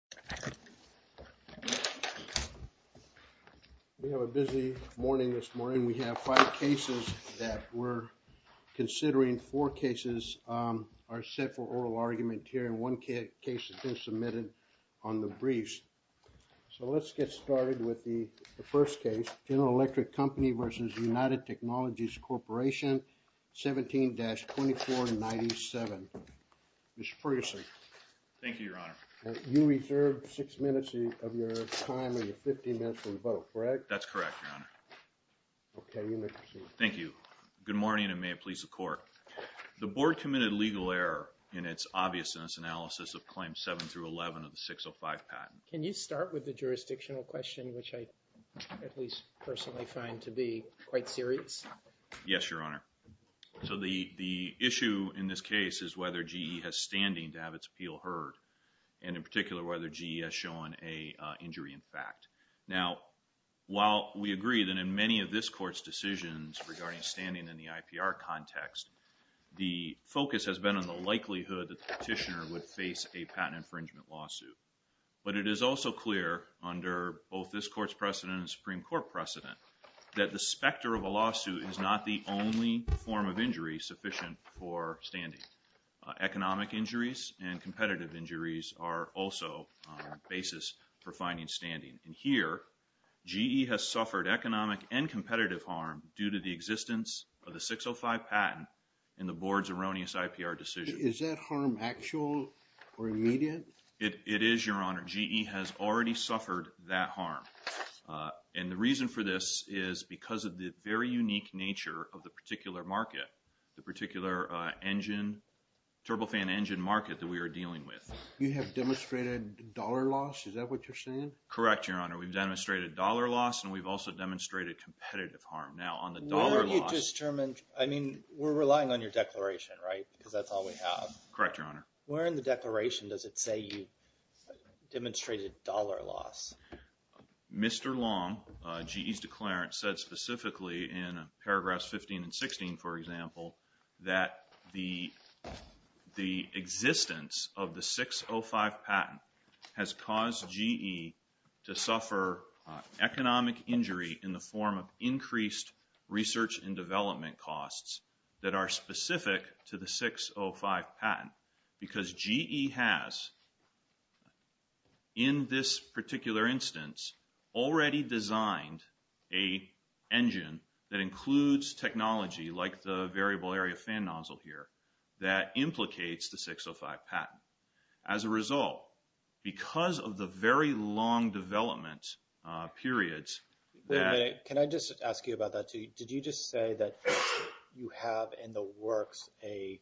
17-2497. You reserve the floor. Thank you. We have a busy morning this morning. We have five cases that we're considering. Four cases are set for oral argument here and one case has been submitted on the briefs. So let's get started with the first case, General Electric Company v. United Technologies Corp. 17-2497. Mr. Ferguson. Thank you, your honor. You reserve six minutes of your time and your 15 minutes for the vote, correct? That's correct, your honor. Okay, you may proceed. Thank you. Good morning and may it please the court. The board committed legal error in its obviousness analysis of claims 7-11 of the 605 patent. Can you start with the jurisdictional question, which I at least personally find to be quite serious? Yes, your honor. So the issue in this case is whether GE has standing to have its appeal heard and in particular whether GE has shown an injury in fact. Now while we agree that in many of this court's decisions regarding standing in the IPR context, the focus has been on the likelihood that the petitioner would face a patent infringement lawsuit. But it is also clear under both this court's precedent and the Supreme Court precedent that the specter of a lawsuit is not the only form of injury sufficient for standing. Economic injuries and competitive injuries are also a basis for finding standing. And here, GE has suffered economic and competitive harm due to the existence of the 605 patent in the board's erroneous IPR decision. Is that harm actual or immediate? It is, your honor. GE has already suffered that harm. And the reason for this is because of the very unique nature of the particular market, the particular engine, turbofan engine market that we are dealing with. You have demonstrated dollar loss, is that what you're saying? Correct, your honor. We've demonstrated dollar loss and we've also demonstrated competitive harm. Now on the dollar loss... Where are you determined, I mean, we're relying on your declaration, right, because that's all we have. Correct, your honor. Where in the declaration does it say you demonstrated dollar loss? Mr. Long, GE's declarant, said specifically in paragraphs 15 and 16, for example, that the existence of the 605 patent has caused GE to suffer economic injury in the form of because GE has, in this particular instance, already designed a engine that includes technology like the variable area fan nozzle here that implicates the 605 patent. As a result, because of the very long development periods... Wait a minute, can I just ask you about that too? Did you just say that you have in the works an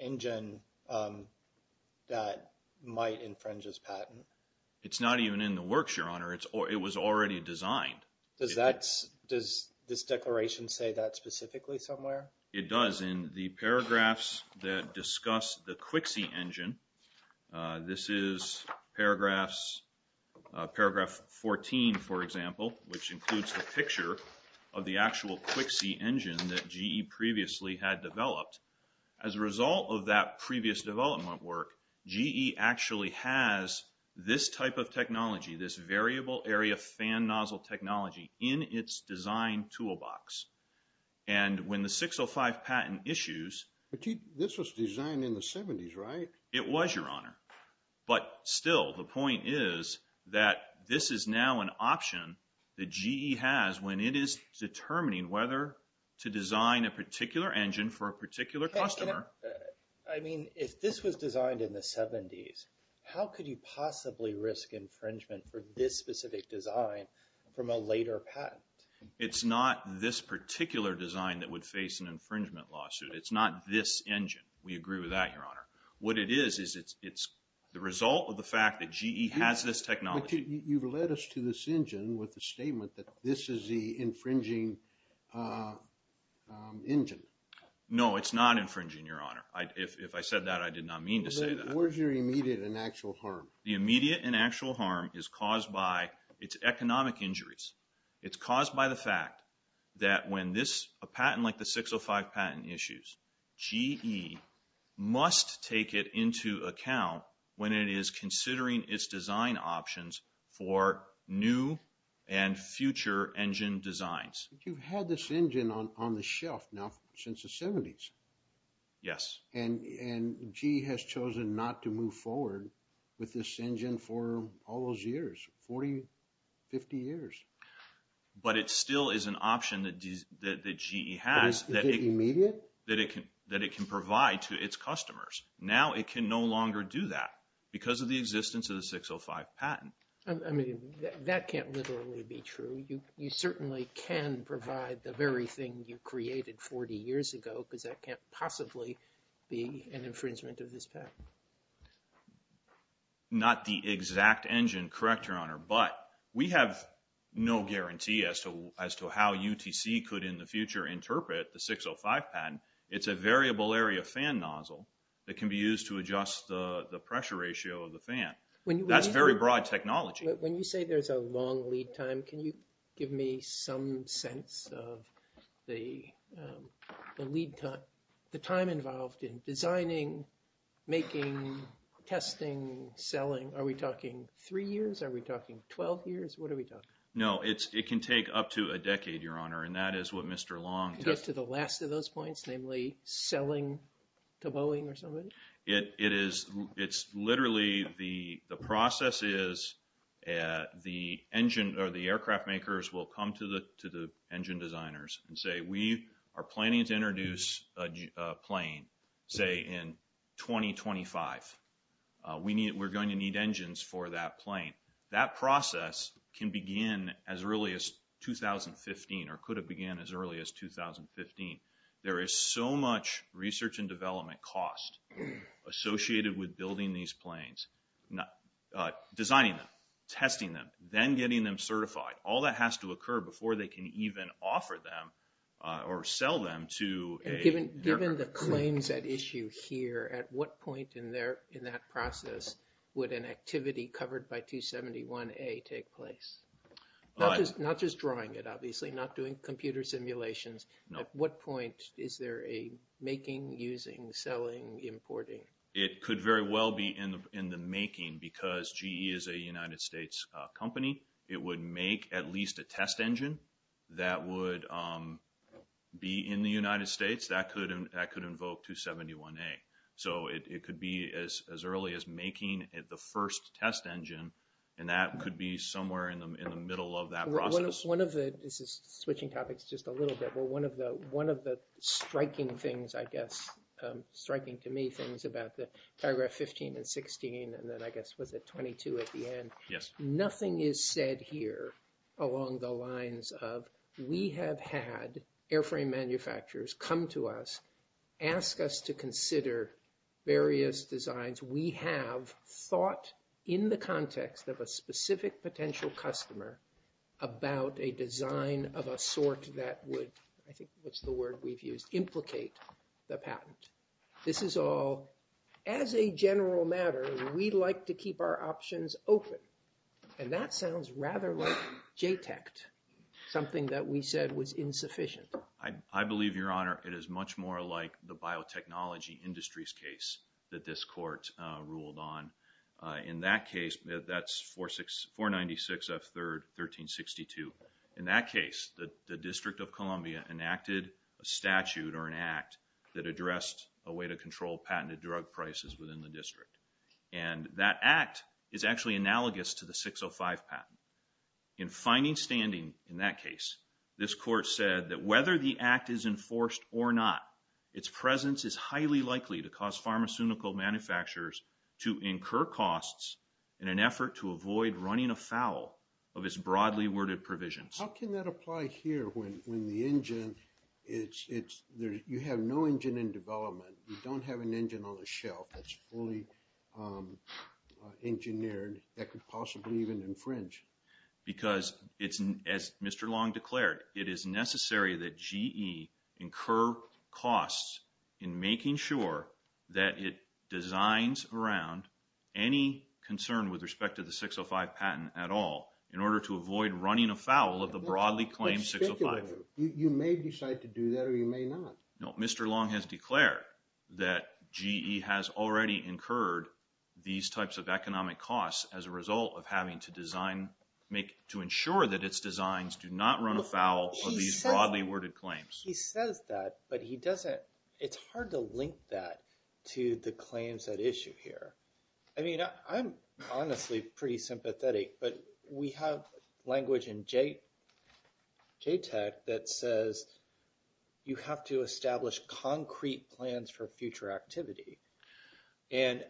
engine that might infringe this patent? It's not even in the works, your honor, it was already designed. Does this declaration say that specifically somewhere? It does. It does in the paragraphs that discuss the KWXE engine. This is paragraph 14, for example, which includes the picture of the actual KWXE engine that GE previously had developed. As a result of that previous development work, GE actually has this type of technology, this variable area fan nozzle technology in its design toolbox. And when the 605 patent issues... But this was designed in the 70s, right? It was, Your Honor. But still, the point is that this is now an option that GE has when it is determining whether to design a particular engine for a particular customer. I mean, if this was designed in the 70s, how could you possibly risk infringement for this specific design from a later patent? It's not this particular design that would face an infringement lawsuit. It's not this engine. We agree with that, Your Honor. What it is, is it's the result of the fact that GE has this technology. You've led us to this engine with the statement that this is the infringing engine. No, it's not infringing, Your Honor. If I said that, I did not mean to say that. Where's your immediate and actual harm? The immediate and actual harm is caused by its economic injuries. It's caused by the fact that when a patent like the 605 patent issues, GE must take it into account when it is considering its design options for new and future engine designs. You've had this engine on the shelf now since the 70s. Yes. And GE has chosen not to move forward with this engine for all those years, 40, 50 years. But it still is an option that GE has that it can provide to its customers. Now it can no longer do that because of the existence of the 605 patent. I mean, that can't literally be true. You certainly can provide the very thing you created 40 years ago because that can't possibly be an infringement of this patent. Not the exact engine, correct, Your Honor, but we have no guarantee as to how UTC could in the future interpret the 605 patent. It's a variable area fan nozzle that can be used to adjust the pressure ratio of the fan. That's very broad technology. When you say there's a long lead time, can you give me some sense of the lead time? The time involved in designing, making, testing, selling. Are we talking three years? Are we talking 12 years? What are we talking? No. It can take up to a decade, Your Honor, and that is what Mr. Long... Can you get to the last of those points, namely selling to Boeing or somebody? It's literally the process is the aircraft makers will come to the engine designers and say, we are planning to introduce a plane, say, in 2025. We're going to need engines for that plane. That process can begin as early as 2015 or could have began as early as 2015. There is so much research and development cost associated with building these planes, designing them, testing them, then getting them certified. All that has to occur before they can even offer them or sell them to an aircraft maker. Given the claims at issue here, at what point in that process would an activity covered by 271A take place? Not just drawing it, obviously, not doing computer simulations. At what point is there a making, using, selling, importing? It could very well be in the making because GE is a United States company. It would make at least a test engine that would be in the United States that could invoke 271A. So it could be as early as making the first test engine, and that could be somewhere in the middle of that process. One of the... This is switching topics just a little bit, but one of the striking things, I guess, striking to me, things about the paragraph 15 and 16, and then, I guess, was it 22 at the end? Yes. Nothing is said here along the lines of, we have had airframe manufacturers come to us, ask us to consider various designs. We have thought, in the context of a specific potential customer, about a design of a sort that would, I think, what's the word we've used, implicate the patent. This is all, as a general matter, we'd like to keep our options open, and that sounds rather like JTECT, something that we said was insufficient. I believe, Your Honor, it is much more like the biotechnology industries case that this court ruled on. In that case, that's 496F3, 1362. In that case, the District of Columbia enacted a statute or an act that addressed a way to control patented drug prices within the district. That act is actually analogous to the 605 patent. In finding standing in that case, this court said that whether the act is enforced or not, its presence is highly likely to cause pharmaceutical manufacturers to incur costs in an effort to avoid running afoul of its broadly worded provisions. How can that apply here when the engine, you have no engine in development, you don't have an engine on the shelf that's fully engineered that could possibly even infringe? Because it's, as Mr. Long declared, it is necessary that GE incur costs in making sure that it designs around any concern with respect to the 605 patent at all in order to avoid running afoul of the broadly claimed 605. You may decide to do that or you may not. No, Mr. Long has declared that GE has already incurred these types of economic costs as a result of having to design, to ensure that its designs do not run afoul of these broadly worded claims. He says that, but he doesn't, it's hard to link that to the claims at issue here. I mean, I'm honestly pretty sympathetic, but we have language in JTAC that says you have to establish concrete plans for future activity. And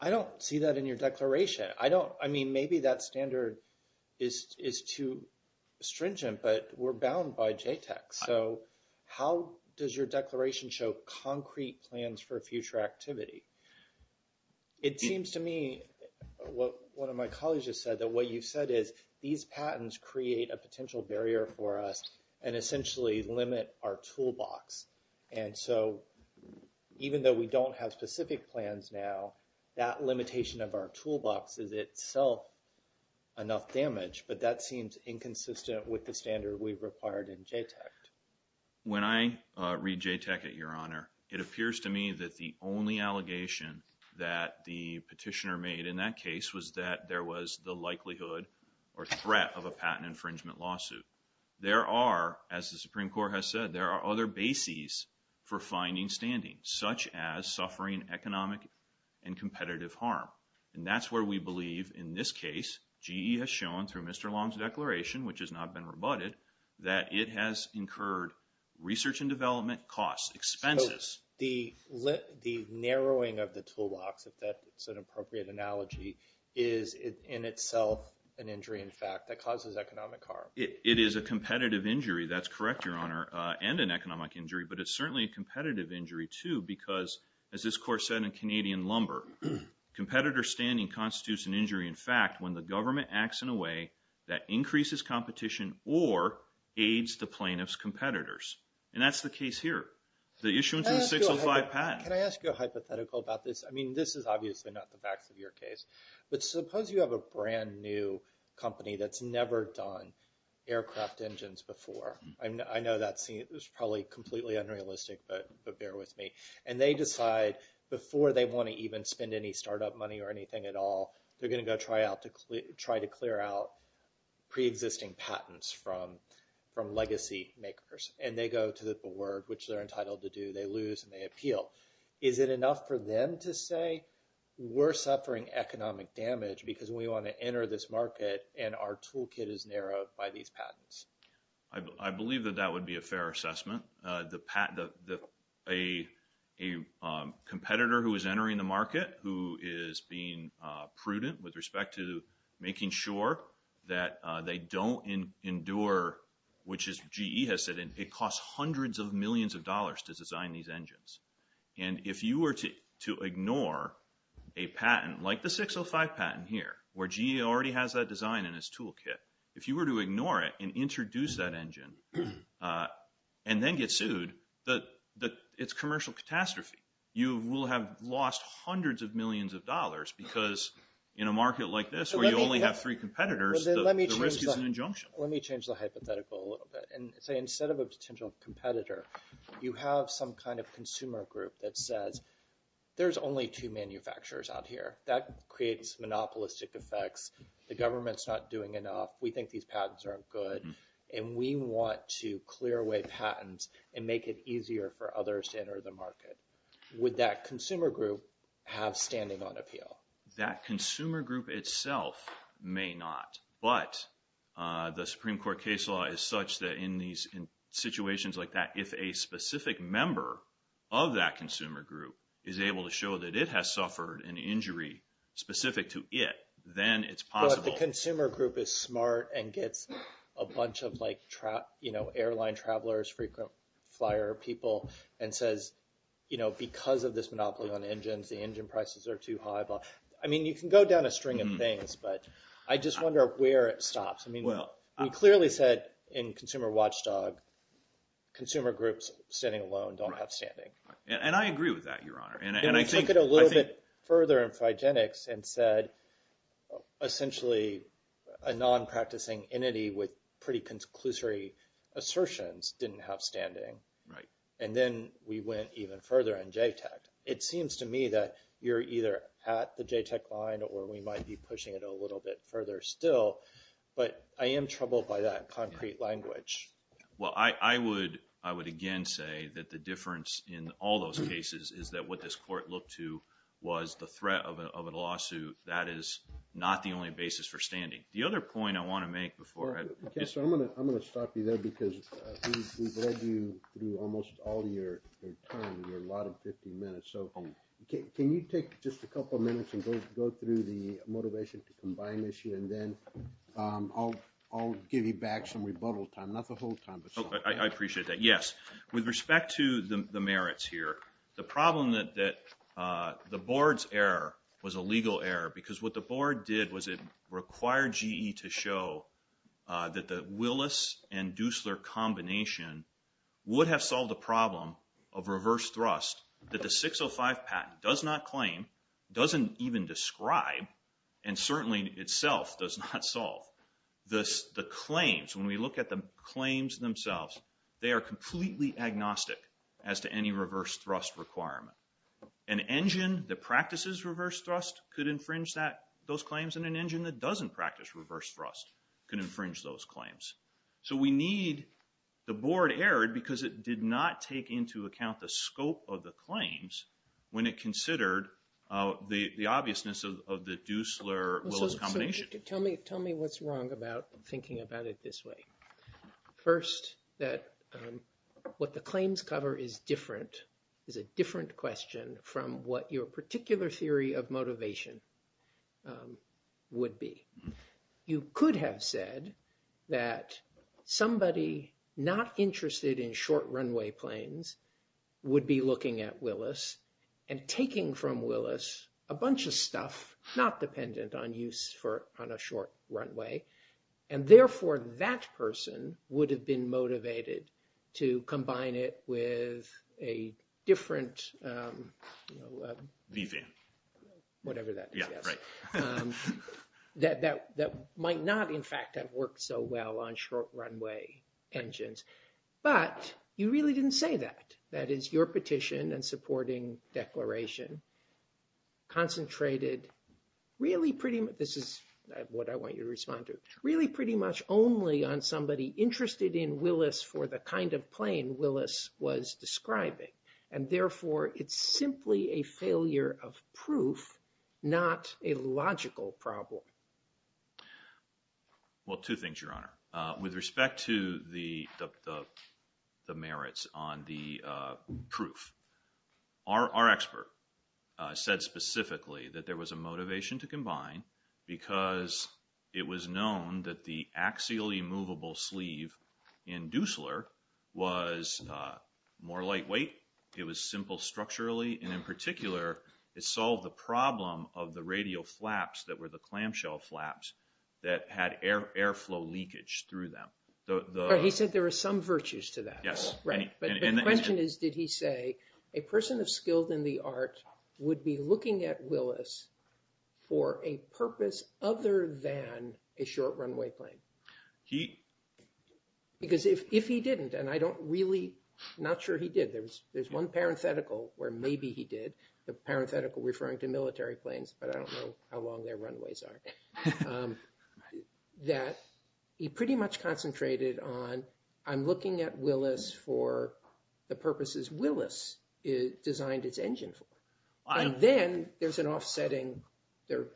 I don't see that in your declaration. I mean, maybe that standard is too stringent, but we're bound by JTAC. So how does your declaration show concrete plans for future activity? It seems to me, what one of my colleagues has said, that what you've said is these patents create a potential barrier for us and essentially limit our toolbox. And so even though we don't have specific plans now, that limitation of our toolbox is itself enough damage, but that seems inconsistent with the standard we've required in JTAC. When I read JTAC at your honor, it appears to me that the only allegation that the petitioner made in that case was that there was the likelihood or threat of a patent infringement lawsuit. There are, as the Supreme Court has said, there are other bases for finding standing, such as suffering economic and competitive harm. And that's where we believe in this case, GE has shown through Mr. Long's declaration, which has not been rebutted, that it has incurred research and development costs, expenses. The narrowing of the toolbox, if that's an appropriate analogy, is in itself an injury in fact that causes economic harm. It is a competitive injury, that's correct your honor, and an economic injury, but it's certainly a competitive injury too, because as this court said in Canadian Lumber, competitor standing constitutes an injury in fact when the government acts in a way that increases competition or aids the plaintiff's competitors. And that's the case here. The issuance of a 605 patent. Can I ask you a hypothetical about this? I mean, this is obviously not the facts of your case, but suppose you have a brand new company that's never done aircraft engines before. I know that seems probably completely unrealistic, but bear with me. And they decide before they want to even spend any startup money or anything at all, they're going to go try to clear out pre-existing patents from legacy makers. And they go to the board, which they're entitled to do, they lose and they appeal. Is it enough for them to say, we're suffering economic damage because we want to enter this market and our toolkit is narrowed by these patents? I believe that that would be a fair assessment. A competitor who is entering the market, who is being prudent with respect to making sure that they don't endure, which is GE has said, it costs hundreds of millions of dollars to design these engines. And if you were to ignore a patent, like the 605 patent here, where GE already has that design in its toolkit, if you were to ignore it and introduce that engine and then get sued, it's commercial catastrophe. You will have lost hundreds of millions of dollars because in a market like this where you only have three competitors, the risk is an injunction. Let me change the hypothetical a little bit and say instead of a potential competitor, you have some kind of consumer group that says, there's only two manufacturers out here. That creates monopolistic effects. The government's not doing enough. We think these patents aren't good. And we want to clear away patents and make it easier for others to enter the market. Would that consumer group have standing on appeal? That consumer group itself may not. But the Supreme Court case law is such that in these situations like that, if a specific member of that consumer group is able to show that it has suffered an injury specific to it, then it's possible. But if the consumer group is smart and gets a bunch of like, you know, airline travelers, frequent flyer people, and says, you know, because of this monopoly on engines, the engine prices are too high. I mean, you can go down a string of things, but I just wonder where it stops. I mean, we clearly said in Consumer Watchdog, consumer groups standing alone don't have standing. And I agree with that, Your Honor. And I think- And we took it a little bit further in Phygenics and said, essentially, a non-practicing entity with pretty conclusory assertions didn't have standing. And then we went even further in JTAC. It seems to me that you're either at the JTAC line or we might be pushing it a little bit further still. But I am troubled by that concrete language. Well, I would, I would again say that the difference in all those cases is that what this court looked to was the threat of a lawsuit. That is not the only basis for standing. The other point I want to make before- Mr. Kessler, I'm going to stop you there because we've led you through almost all of your time and you're a lot of 15 minutes. So can you take just a couple of minutes and go through the motivation to combine issue and then I'll give you back some rebuttal time, not the whole time, but some. I appreciate that. Yes. With respect to the merits here, the problem that the board's error was a legal error because what the board did was it required GE to show that the Willis and Duesler combination would have solved the problem of reverse thrust that the 605 patent does not claim, doesn't even describe, and certainly itself does not solve. The claims, when we look at the claims themselves, they are completely agnostic as to any reverse thrust requirement. An engine that practices reverse thrust could infringe those claims and an engine that doesn't practice reverse thrust can infringe those claims. So we need the board error because it did not take into account the scope of the claims when it considered the obviousness of the Duesler-Willis combination. Tell me what's wrong about thinking about it this way. First, that what the claims cover is different, is a different question from what your particular theory of motivation would be. You could have said that somebody not interested in short runway planes would be looking at Willis and taking from Willis a bunch of stuff not dependent on use on a short runway and therefore that person would have been motivated to combine it with a different... V-van. Whatever that is. Yeah, right. That might not in fact have worked so well on short runway engines, but you really didn't say that. That is, your petition and supporting declaration concentrated really pretty much, this is what I want you to respond to, really pretty much only on somebody interested in Willis for the kind of plane Willis was describing and therefore it's simply a failure of proof, not a logical problem. Well, two things, Your Honor. With respect to the merits on the proof, our expert said specifically that there was a It was known that the axially movable sleeve in Dusler was more lightweight, it was simple structurally and in particular, it solved the problem of the radial flaps that were the clamshell flaps that had airflow leakage through them. He said there were some virtues to that. Yes. The question is, did he say, a person of skill in the art would be looking at Willis for a purpose other than a short runway plane? Because if he didn't, and I don't really, not sure he did, there's one parenthetical where maybe he did, the parenthetical referring to military planes, but I don't know how long their runways are, that he pretty much concentrated on, I'm looking at Willis for the purposes Willis designed its engine for, and then there's an offsetting, there are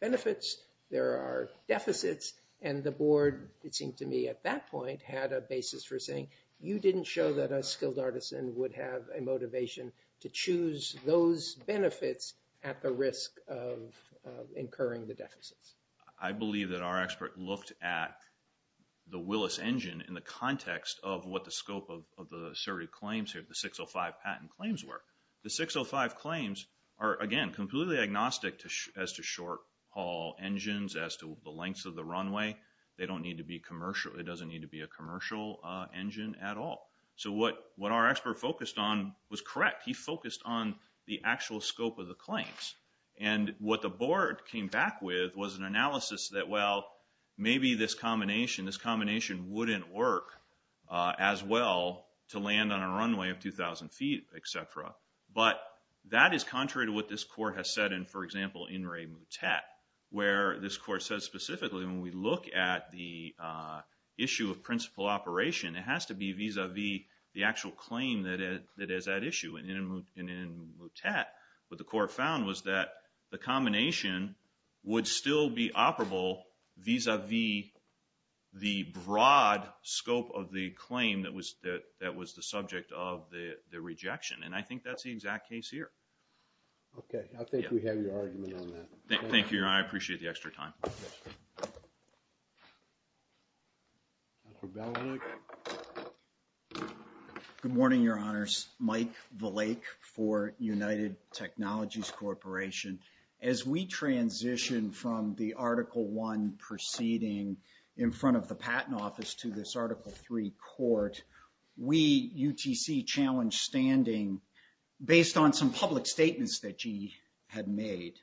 benefits, there are deficits, and the board, it seemed to me at that point, had a basis for saying, you didn't show that a skilled artisan would have a motivation to choose those benefits at the risk of incurring the deficits. I believe that our expert looked at the Willis engine in the context of what the scope of the asserted claims here, the 605 patent claims were. The 605 claims are, again, completely agnostic as to short-haul engines, as to the lengths of the runway. They don't need to be commercial, it doesn't need to be a commercial engine at all. So what our expert focused on was correct. He focused on the actual scope of the claims. And what the board came back with was an analysis that, well, maybe this combination, this combination wouldn't work as well to land on a runway of 2,000 feet, et cetera. But that is contrary to what this court has said in, for example, In re Mutet, where this court says specifically, when we look at the issue of principal operation, it has to be vis-a-vis the actual claim that is at issue, and in Mutet, what the court found was that the combination would still be operable vis-a-vis the broad scope of the claim that was the subject of the rejection. And I think that's the exact case here. Okay. I think we have your argument on that. Thank you, Your Honor. I appreciate the extra time. Thank you. Dr. Beledick. Good morning, Your Honors. My name is Mike Belick for United Technologies Corporation. As we transition from the Article I proceeding in front of the Patent Office to this Article III court, we, UTC, challenge standing based on some public statements that GE had made.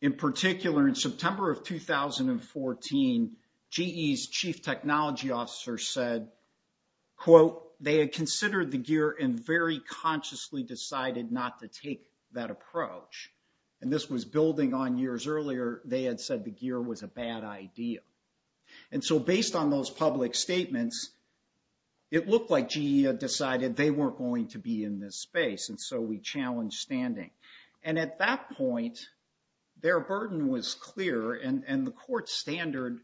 In particular, in September of 2014, GE's Chief Technology Officer said, quote, they had considered the gear and very consciously decided not to take that approach. And this was building on years earlier, they had said the gear was a bad idea. And so, based on those public statements, it looked like GE had decided they weren't going to be in this space, and so we challenged standing. And at that point, their burden was clear, and the court's standard,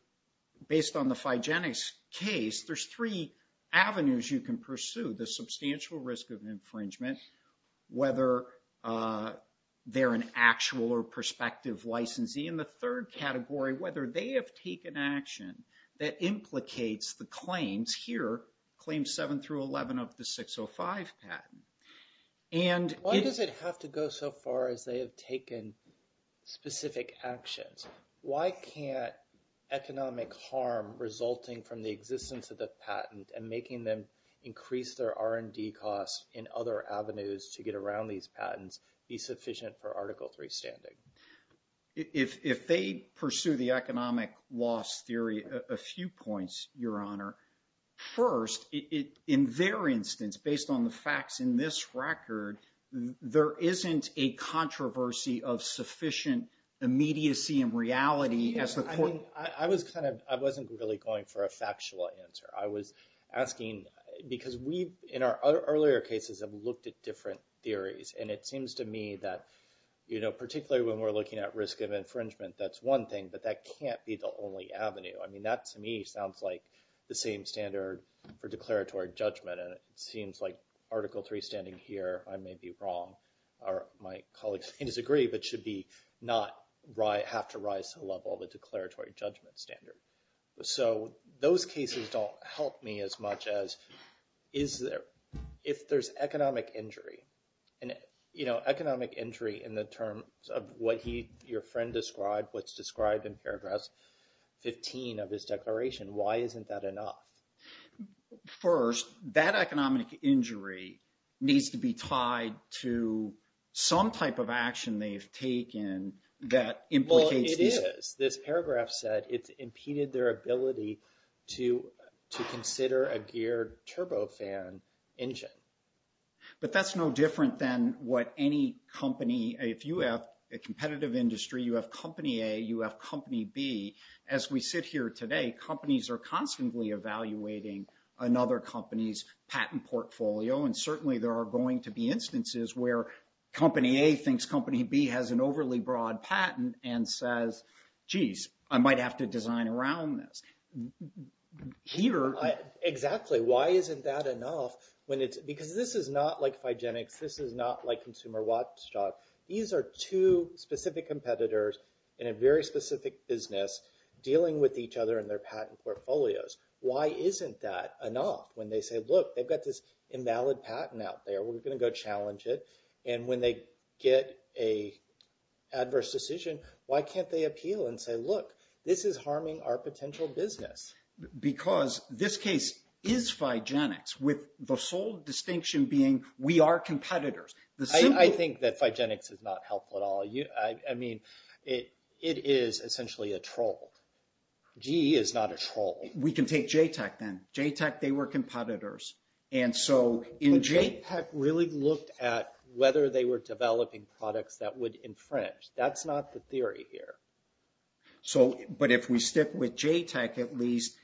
based on the Figenics case, there's three avenues you can pursue, the substantial risk of infringement, whether they're an actual or prospective licensee, and the third category, whether they have taken action that implicates the claims here, Claims 7 through 11 of the 605 patent. And it- Why does it have to go so far as they have taken specific actions? Why can't economic harm resulting from the existence of the patent and making them increase their R&D costs in other avenues to get around these patents be sufficient for Article III standing? If they pursue the economic loss theory, a few points, Your Honor. First, in their instance, based on the facts in this record, there isn't a controversy of sufficient immediacy and reality as the court- I was kind of, I wasn't really going for a factual answer. I was asking, because we, in our earlier cases, have looked at different theories, and it seems to me that, particularly when we're looking at risk of infringement, that's one thing, but that can't be the only avenue. I mean, that to me sounds like the same standard for declaratory judgment, and it seems like Article III standing here, I may be wrong. My colleagues may disagree, but should be not have to rise to the level of a declaratory judgment standard. So those cases don't help me as much as, if there's economic injury, and economic injury in the terms of what your friend described, what's described in paragraph 15 of his declaration, why isn't that enough? First, that economic injury needs to be tied to some type of action they've taken that implicates- Well, it is. This paragraph said it's impeded their ability to consider a geared turbofan engine. But that's no different than what any company, if you have a competitive industry, you have company A, you have company B. As we sit here today, companies are constantly evaluating another company's patent portfolio, and certainly there are going to be instances where company A thinks company B has an overly broad patent, and says, geez, I might have to design around this. Peter- Exactly, why isn't that enough? Because this is not like Figenics, this is not like Consumer Watchdog. These are two specific competitors in a very specific business, dealing with each other in their patent portfolios. Why isn't that enough? When they say, look, they've got this invalid patent out there, we're going to go challenge it. And when they get an adverse decision, why can't they appeal and say, look, this is harming our potential business? Because this case is Figenics, with the sole distinction being, we are competitors. I think that Figenics is not helpful at all. It is essentially a troll. GE is not a troll. We can take JTAC then. JTAC, they were competitors. And so JTAC really looked at whether they were developing products that would infringe. That's not the theory here. But if we stick with JTAC at least,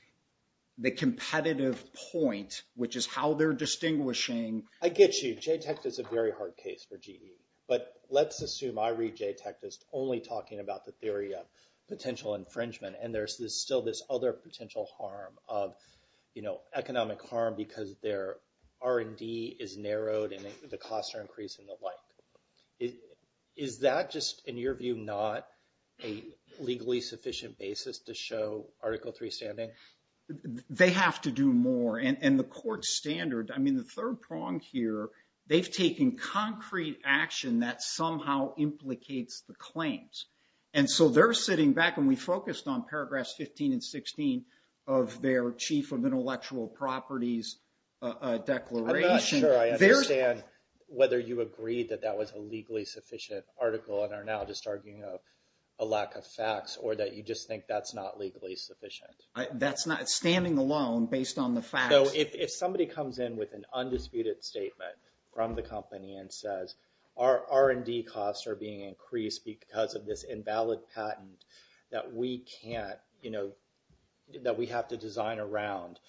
the competitive point, which is how they're distinguishing- I get you. JTAC is a very hard case for GE. But let's assume I read JTAC as only talking about the theory of potential infringement. And there's still this other potential harm, economic harm, because their R&D is narrowed and the costs are increasing and the like. Is that just, in your view, not a legally sufficient basis to show Article III standing? They have to do more. And the court standard, I mean, the third prong here, they've taken concrete action that somehow implicates the claims. And so they're sitting back, and we focused on paragraphs 15 and 16 of their Chief of Intellectual Properties Declaration. I'm not sure I understand whether you agreed that that was a legally sufficient article and are now just arguing a lack of facts or that you just think that's not legally sufficient. That's not, it's standing alone based on the facts. So if somebody comes in with an undisputed statement from the company and says, our R&D costs are being increased because of this invalid patent that we can't, that we have to design around,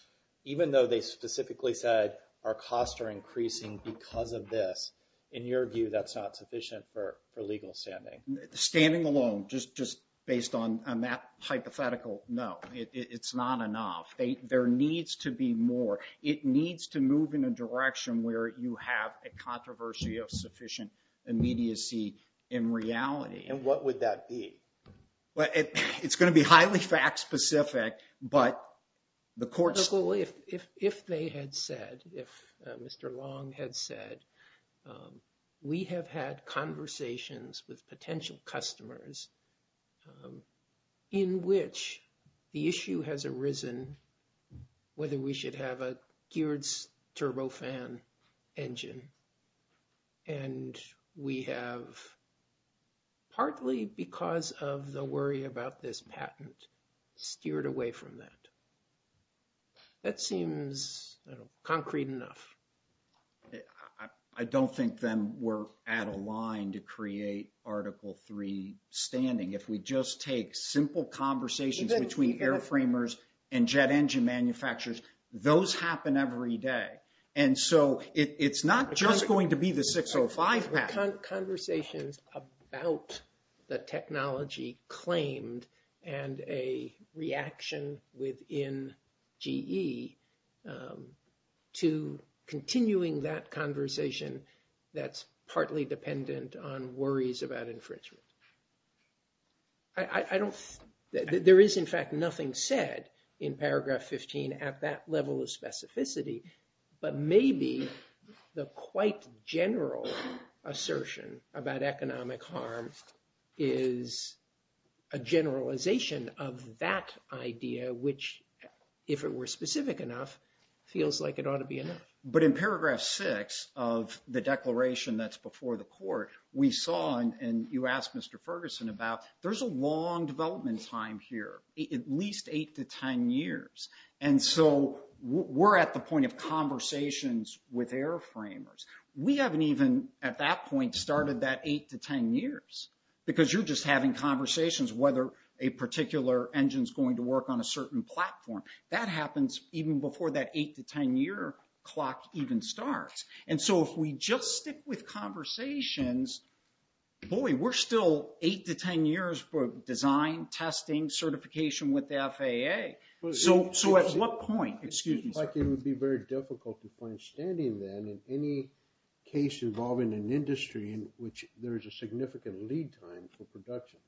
even though they specifically said our costs are increasing because of this, in your view, that's not sufficient for legal standing? Standing alone, just based on that hypothetical, no. It's not enough. There needs to be more. It needs to move in a direction where you have a controversy of sufficient immediacy in reality. And what would that be? It's going to be highly fact-specific, but the court's... Well, if they had said, if Mr. Long had said, we have had conversations with potential customers in which the issue has arisen whether we should have a geared turbofan engine. And we have, partly because of the worry about this patent, steered away from that. That seems concrete enough. I don't think then we're at a line to create Article 3 standing. If we just take simple conversations between air framers and jet engine manufacturers, those happen every day. And so it's not just going to be the 605 patent. Conversations about the technology claimed and a reaction within GE to continuing that conversation that's partly dependent on worries about infringement. I don't... There is, in fact, nothing said in paragraph 15 at that level of specificity, but maybe the quite general assertion about economic harm is a generalization of that idea, which, if it were specific enough, feels like it ought to be enough. But in paragraph six of the declaration that's before the court, we saw, and you asked Mr. Ferguson about, there's a long development time here, at least eight to 10 years. And so we're at the point of conversations with air framers. We haven't even, at that point, started that eight to 10 years, because you're just having conversations whether a particular engine's going to work on a certain platform. That happens even before that eight to 10 year clock even starts. And so if we just stick with conversations, boy, we're still eight to 10 years for design, testing, certification with the FAA. So at what point... Excuse me, sir. It seems like it would be very difficult to find standing then in any case involving an industry in which there is a significant lead time for production.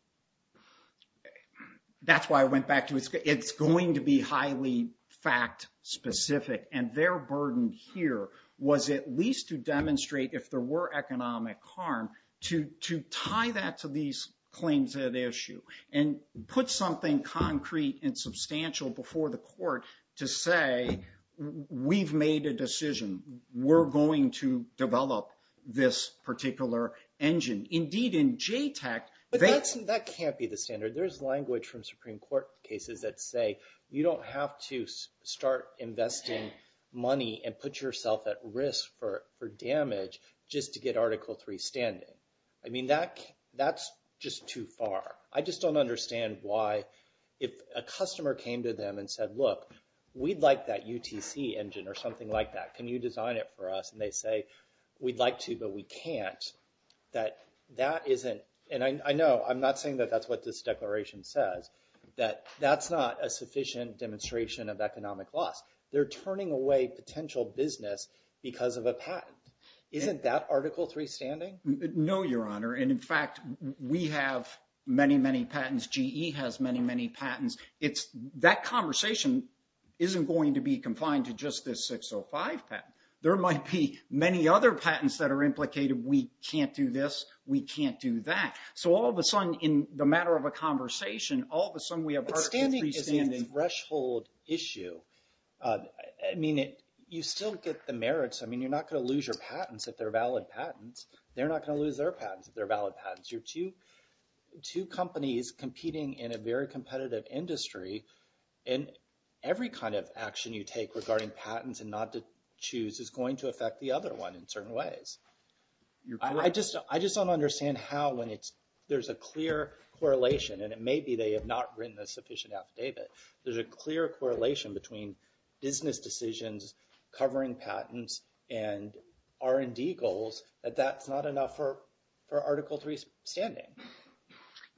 That's why I went back to... It's going to be highly fact specific. And their burden here was at least to demonstrate, if there were economic harm, to tie that to these claims at issue and put something concrete and substantial before the court to say, we've made a decision. We're going to develop this particular engine. Indeed, in JTAC, they... That can't be the standard. There's language from Supreme Court cases that say, you don't have to start investing money and put yourself at risk for damage just to get Article III standing. I mean, that's just too far. I just don't understand why if a customer came to them and said, look, we'd like that UTC engine or something like that. Can you design it for us? And they say, we'd like to, but we can't, that that isn't... And I know, I'm not saying that that's what this declaration says, that that's not a sufficient demonstration of economic loss. They're turning away potential business because of a patent. Isn't that Article III standing? No, Your Honor. And in fact, we have many, many patents. GE has many, many patents. That conversation isn't going to be confined to just this 605 patent. There might be many other patents that are implicated. We can't do this. We can't do that. So all of a sudden, in the matter of a conversation, all of a sudden we have Article III standing. But standing isn't a threshold issue. I mean, you still get the merits. I mean, you're not going to lose your patents if they're valid patents. They're not going to lose their patents if they're valid patents. You're two companies competing in a very competitive industry, and every kind of action you take regarding patents and not to choose is going to affect the other one in certain ways. You're correct. I just don't understand how, when there's a clear correlation, and it may be they have not written a sufficient affidavit, there's a clear correlation between business decisions covering patents and R&D goals, that that's not enough for Article III standing.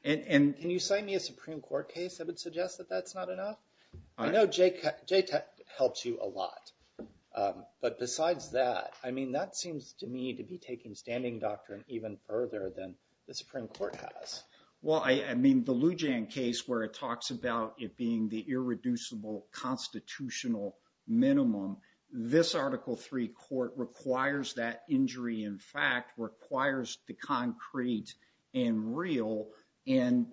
And can you sign me a Supreme Court case that would suggest that that's not enough? I know JTAC helps you a lot. But besides that, I mean, that seems to me to be taking standing doctrine even further than the Supreme Court has. Well, I mean, the Loujain case where it talks about it being the irreducible constitutional minimum, this Article III court requires that injury in fact, requires the concrete and real. And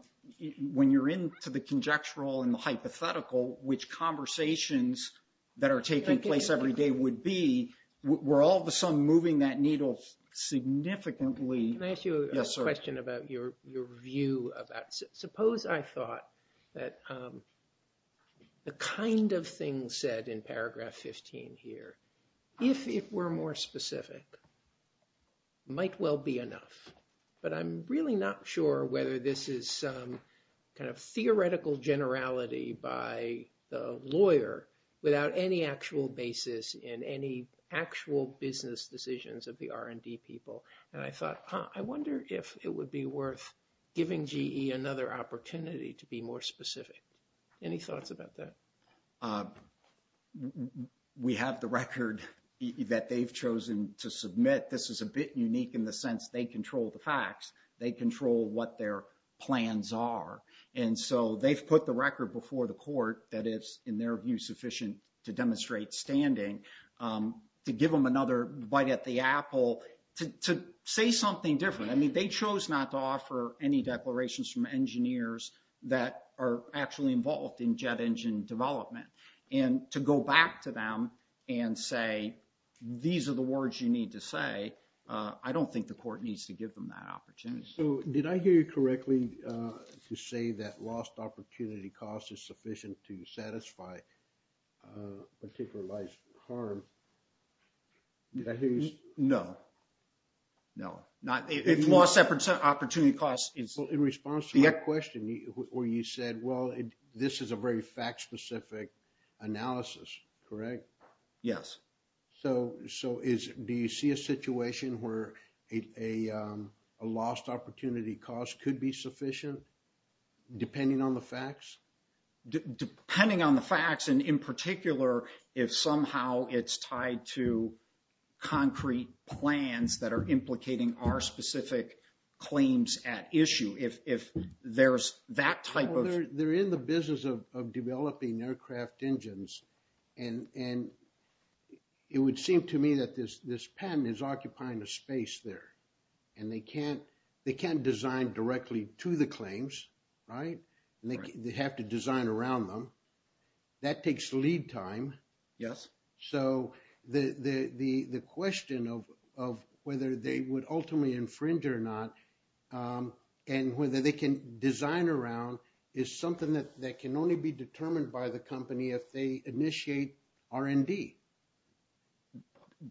when you're into the conjectural and the hypothetical, which conversations that are taking place every day would be, we're all of a sudden moving that needle significantly. Can I ask you a question about your view about, suppose I thought that the kind of thing said in paragraph 15 here, if it were more specific, might well be enough. But I'm really not sure whether this is some kind of theoretical generality by the lawyer without any actual basis in any actual business decisions of the R&D people. And I thought, I wonder if it would be worth giving GE another opportunity to be more specific. Any thoughts about that? We have the record that they've chosen to submit. This is a bit unique in the sense they control the facts, they control what their plans are. And so they've put the record before the court that is, in their view, sufficient to demonstrate standing to give them another bite at the apple to say something different. I mean, they chose not to offer any declarations from engineers that are actually involved in jet engine development and to go back to them and say, these are the words you need to say. I don't think the court needs to give them that opportunity. So did I hear you correctly to say that lost opportunity cost is sufficient to satisfy a particular life's harm? Did I hear you? No. No. Not... If lost opportunity cost is... Well, in response to your question where you said, well, this is a very fact-specific analysis. Correct? Yes. So do you see a situation where a lost opportunity cost could be sufficient, depending on the facts? Depending on the facts and in particular, if somehow it's tied to concrete plans that are implicating our specific claims at issue, if there's that type of... And it would seem to me that this patent is occupying a space there and they can't design directly to the claims, right? And they have to design around them. That takes lead time. Yes. So the question of whether they would ultimately infringe or not and whether they can design is something that can only be determined by the company if they initiate R&D.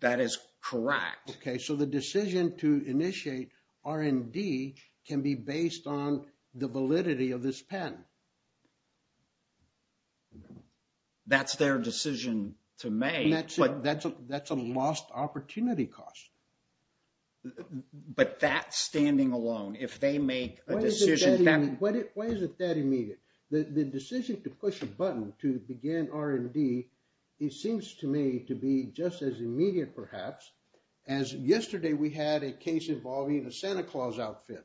That is correct. Okay. So the decision to initiate R&D can be based on the validity of this patent. That's their decision to make, but... That's a lost opportunity cost. But that standing alone, if they make a decision that... Why is it that immediate? The decision to push a button to begin R&D, it seems to me to be just as immediate perhaps as yesterday we had a case involving a Santa Claus outfit.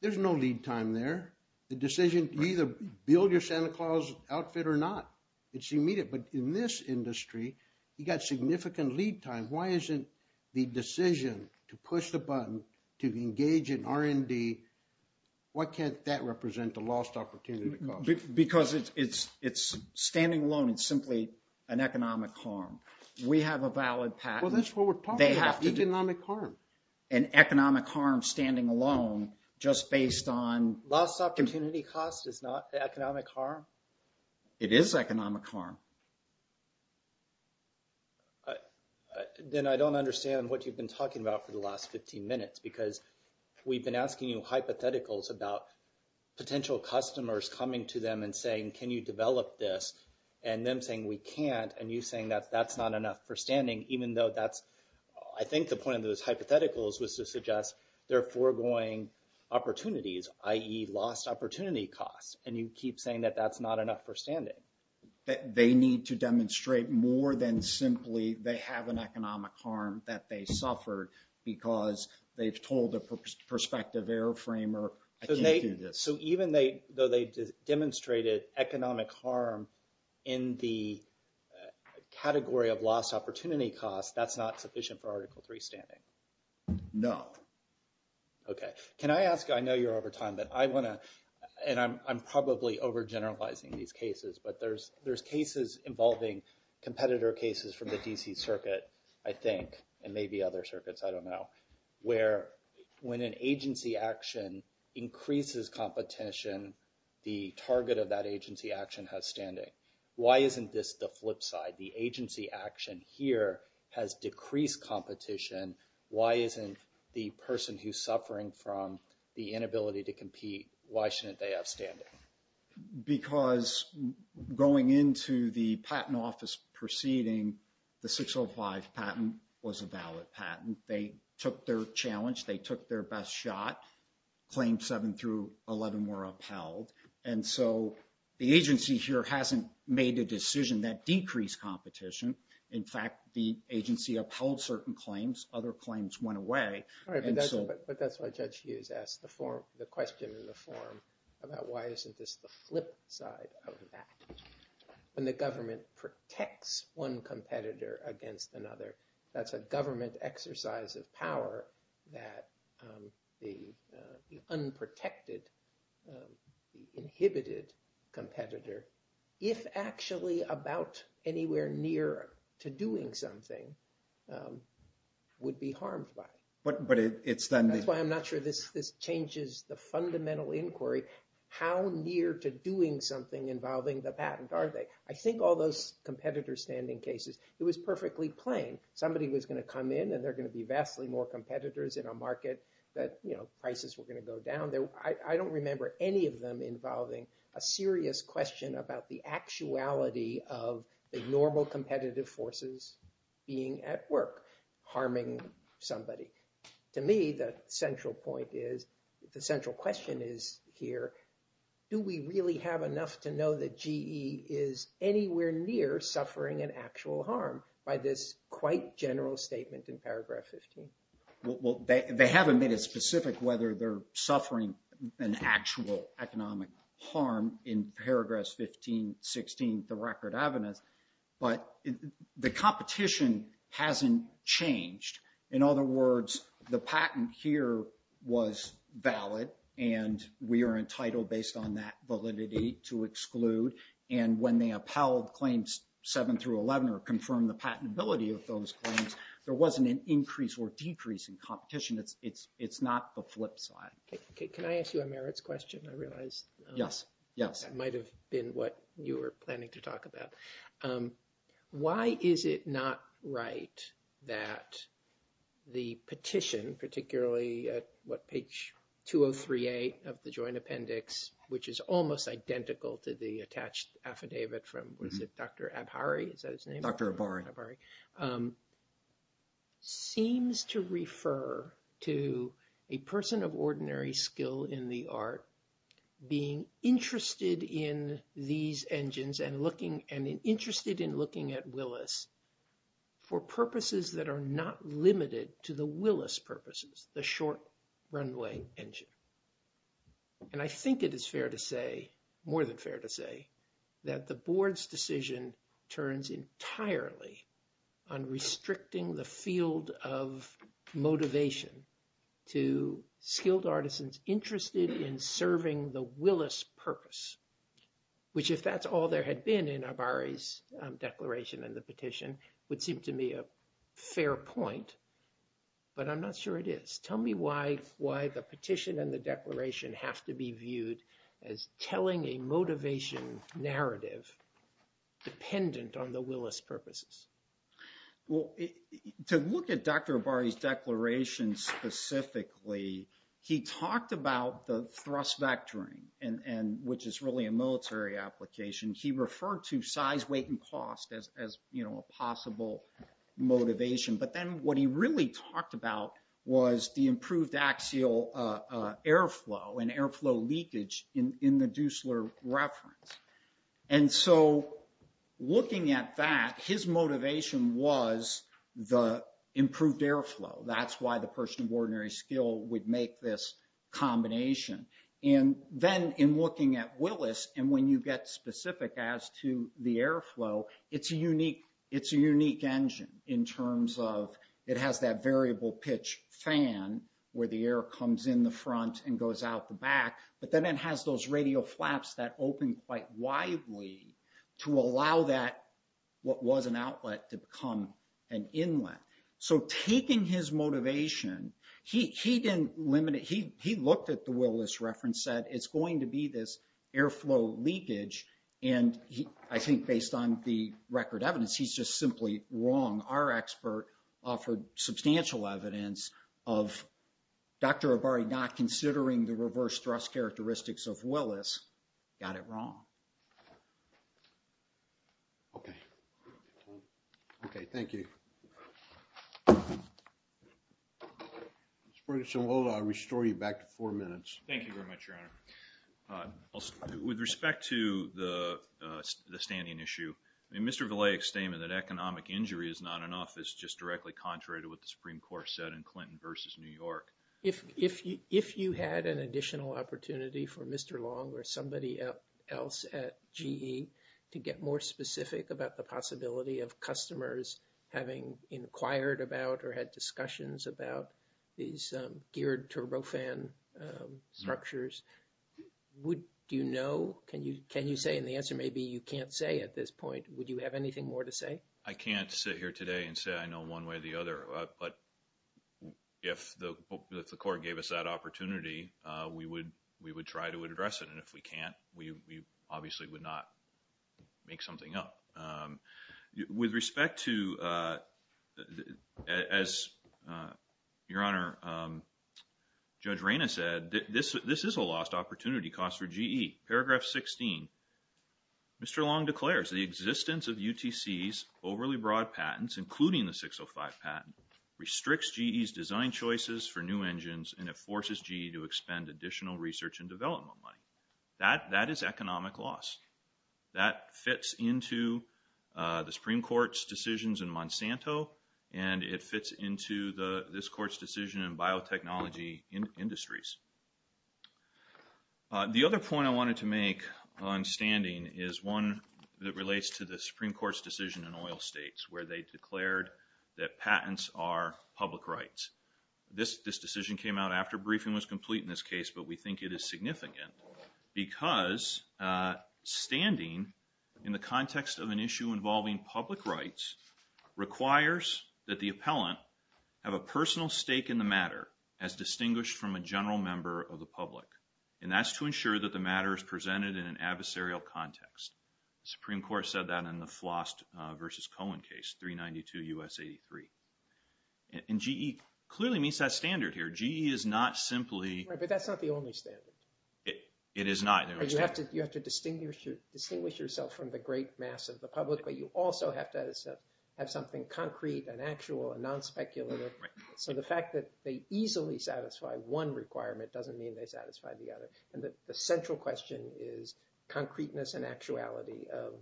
There's no lead time there. The decision to either build your Santa Claus outfit or not, it's immediate. But in this industry, you got significant lead time. Why isn't the decision to push the button, to engage in R&D? Why can't that represent a lost opportunity cost? Because it's standing alone, it's simply an economic harm. We have a valid patent. Well, that's what we're talking about. They have to... Economic harm. An economic harm standing alone just based on... Lost opportunity cost is not economic harm? It is economic harm. Then I don't understand what you've been talking about for the last 15 minutes because we've been asking you hypotheticals about potential customers coming to them and saying, can you develop this? And them saying, we can't, and you saying that that's not enough for standing, even though that's... I think the point of those hypotheticals was to suggest they're foregoing opportunities, i.e. lost opportunity costs, and you keep saying that that's not enough for standing. They need to demonstrate more than simply they have an economic harm that they suffered because they've told a prospective airframer, I can't do this. So even though they demonstrated economic harm in the category of lost opportunity cost, that's not sufficient for Article III standing? No. Okay. Can I ask... I know you're over time, but I want to... And I'm probably overgeneralizing these cases, but there's cases involving competitor cases from the DC circuit, I think, and maybe other circuits, I don't know, where when an agency action increases competition, the target of that agency action has standing. Why isn't this the flip side? The agency action here has decreased competition. Why isn't the person who's suffering from the inability to compete, why shouldn't they have standing? Because going into the patent office proceeding, the 605 patent was a valid patent. They took their challenge, they took their best shot, Claims 7 through 11 were upheld, and so the agency here hasn't made a decision that decreased competition. In fact, the agency upheld certain claims, other claims went away, and so... Why isn't this the flip side of that? When the government protects one competitor against another, that's a government exercise of power that the unprotected, inhibited competitor, if actually about anywhere near to doing something, would be harmed by. But it's then... That's why I'm not sure this changes the fundamental inquiry, how near to doing something involving the patent are they? I think all those competitor standing cases, it was perfectly plain. Somebody was going to come in and there are going to be vastly more competitors in a market that prices were going to go down. I don't remember any of them involving a serious question about the actuality of the normal competitive forces being at work, harming somebody. To me, the central point is, the central question is here, do we really have enough to know that GE is anywhere near suffering an actual harm by this quite general statement in paragraph 15? Well, they haven't made it specific whether they're suffering an actual economic harm in paragraphs 15, 16, the record evidence, but the competition hasn't changed. In other words, the patent here was valid and we are entitled based on that validity to exclude. And when they upheld claims seven through 11 or confirmed the patentability of those claims, there wasn't an increase or decrease in competition. It's not the flip side. Okay. Can I ask you a merits question? I realize- Yes. Yes. That might've been what you were planning to talk about. Why is it not right that the petition, particularly at what, page 203A of the joint appendix, which is almost identical to the attached affidavit from, was it Dr. Abhari, is that his name? Dr. Abhari. Abhari. Seems to refer to a person of ordinary skill in the art being interested in these engines and interested in looking at Willis for purposes that are not limited to the Willis purposes, the short runway engine. And I think it is fair to say, more than fair to say, that the board's decision turns entirely on restricting the field of motivation to skilled artisans interested in serving the had been in Abhari's declaration and the petition would seem to me a fair point, but I'm not sure it is. Tell me why the petition and the declaration have to be viewed as telling a motivation narrative dependent on the Willis purposes. Well, to look at Dr. Abhari's declaration specifically, he talked about the thrust vectoring, which is really a military application. He referred to size, weight, and cost as a possible motivation. But then what he really talked about was the improved axial airflow and airflow leakage in the Dusler reference. And so looking at that, his motivation was the improved airflow. That's why the person of ordinary skill would make this combination. And then in looking at Willis, and when you get specific as to the airflow, it's a unique engine in terms of it has that variable pitch fan where the air comes in the front and goes out the back, but then it has those radio flaps that open quite widely to allow that what was an outlet to become an inlet. So taking his motivation, he looked at the Willis reference, said, it's going to be this airflow leakage. And I think based on the record evidence, he's just simply wrong. Our expert offered substantial evidence of Dr. Abhari not considering the reverse thrust characteristics of Willis, got it wrong. Okay. Okay, thank you. Mr. Ferguson, hold on, I'll restore you back to four minutes. Thank you very much, Your Honor. With respect to the standing issue, Mr. Villei's statement that economic injury is not enough is just directly contrary to what the Supreme Court said in Clinton versus New York. If you had an additional opportunity for Mr. Long or somebody else at GE to get more specific about the possibility of customers having inquired about or had discussions about these geared turbofan structures, would you know? Can you say, and the answer may be you can't say at this point, would you have anything more to say? I can't sit here today and say I know one way or the other, but if the court gave us that opportunity, we would try to address it. And if we can't, we obviously would not make something up. With respect to, as Your Honor, Judge Reyna said, this is a lost opportunity cost for GE. Paragraph 16, Mr. Long declares the existence of UTC's overly broad patents, including the 605 patent, restricts GE's design choices for new engines and it forces GE to expend additional research and development money. That is economic loss. That fits into the Supreme Court's decisions in Monsanto and it fits into this Court's decision in biotechnology industries. The other point I wanted to make on standing is one that relates to the Supreme Court's decision in oil states where they declared that patents are public rights. This decision came out after briefing was complete in this case, but we think it is significant because standing in the context of an issue involving public rights requires that the appellant have a personal stake in the matter as distinguished from a general member of the public. And that's to ensure that the matter is presented in an adversarial context. The Supreme Court said that in the Flost v. Cohen case, 392 U.S. 83. And GE clearly meets that standard here. GE is not simply... Right, but that's not the only standard. It is not. You have to distinguish yourself from the great mass of the public, but you also have to have something concrete and actual and non-speculative. So the fact that they easily satisfy one requirement doesn't mean they satisfy the other. And the central question is concreteness and actuality of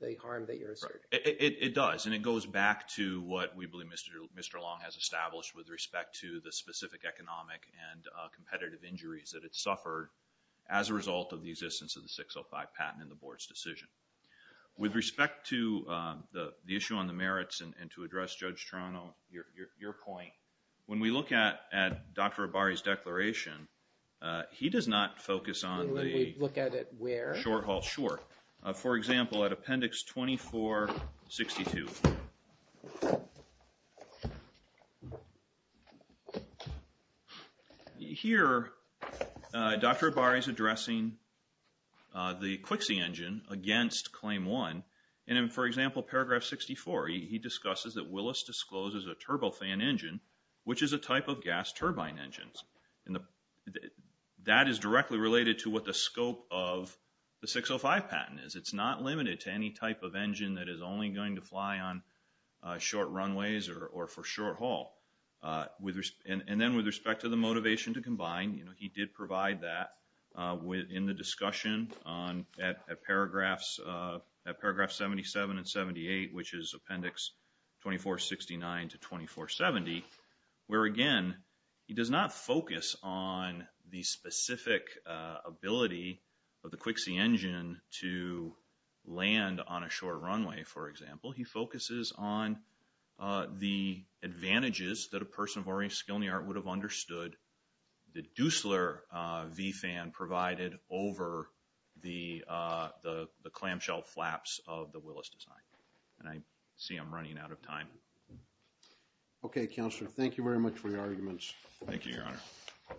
the harm that you're asserting. It does, and it goes back to what we believe Mr. Long has established with respect to the specific economic and competitive injuries that it suffered as a result of the existence of the 605 patent in the Board's decision. With respect to the issue on the merits and to address Judge Toronto, your point, when we look at Dr. Abari's declaration, he does not focus on the... When we look at it where? Short haul. Sure. For example, at Appendix 2462, here, Dr. Abari's addressing the QC engine against Claim 1. And in, for example, Paragraph 64, he discusses that Willis discloses a turbofan engine, which is a type of gas turbine engines. And that is directly related to what the scope of the 605 patent is. It's not limited to any type of engine that is only going to fly on short runways or for short haul. And then with respect to the motivation to combine, he did provide that in the discussion at Paragraph 77 and 78, which is Appendix 2469 to 2470, where again, he does not focus on the specific ability of the QC engine to land on a short runway, for example. He focuses on the advantages that a person of oriented skill in the art would have understood the Duesler V-fan provided over the clamshell flaps of the Willis design. And I see I'm running out of time. Okay, Counselor. Thank you very much for your arguments. Thank you, Your Honor.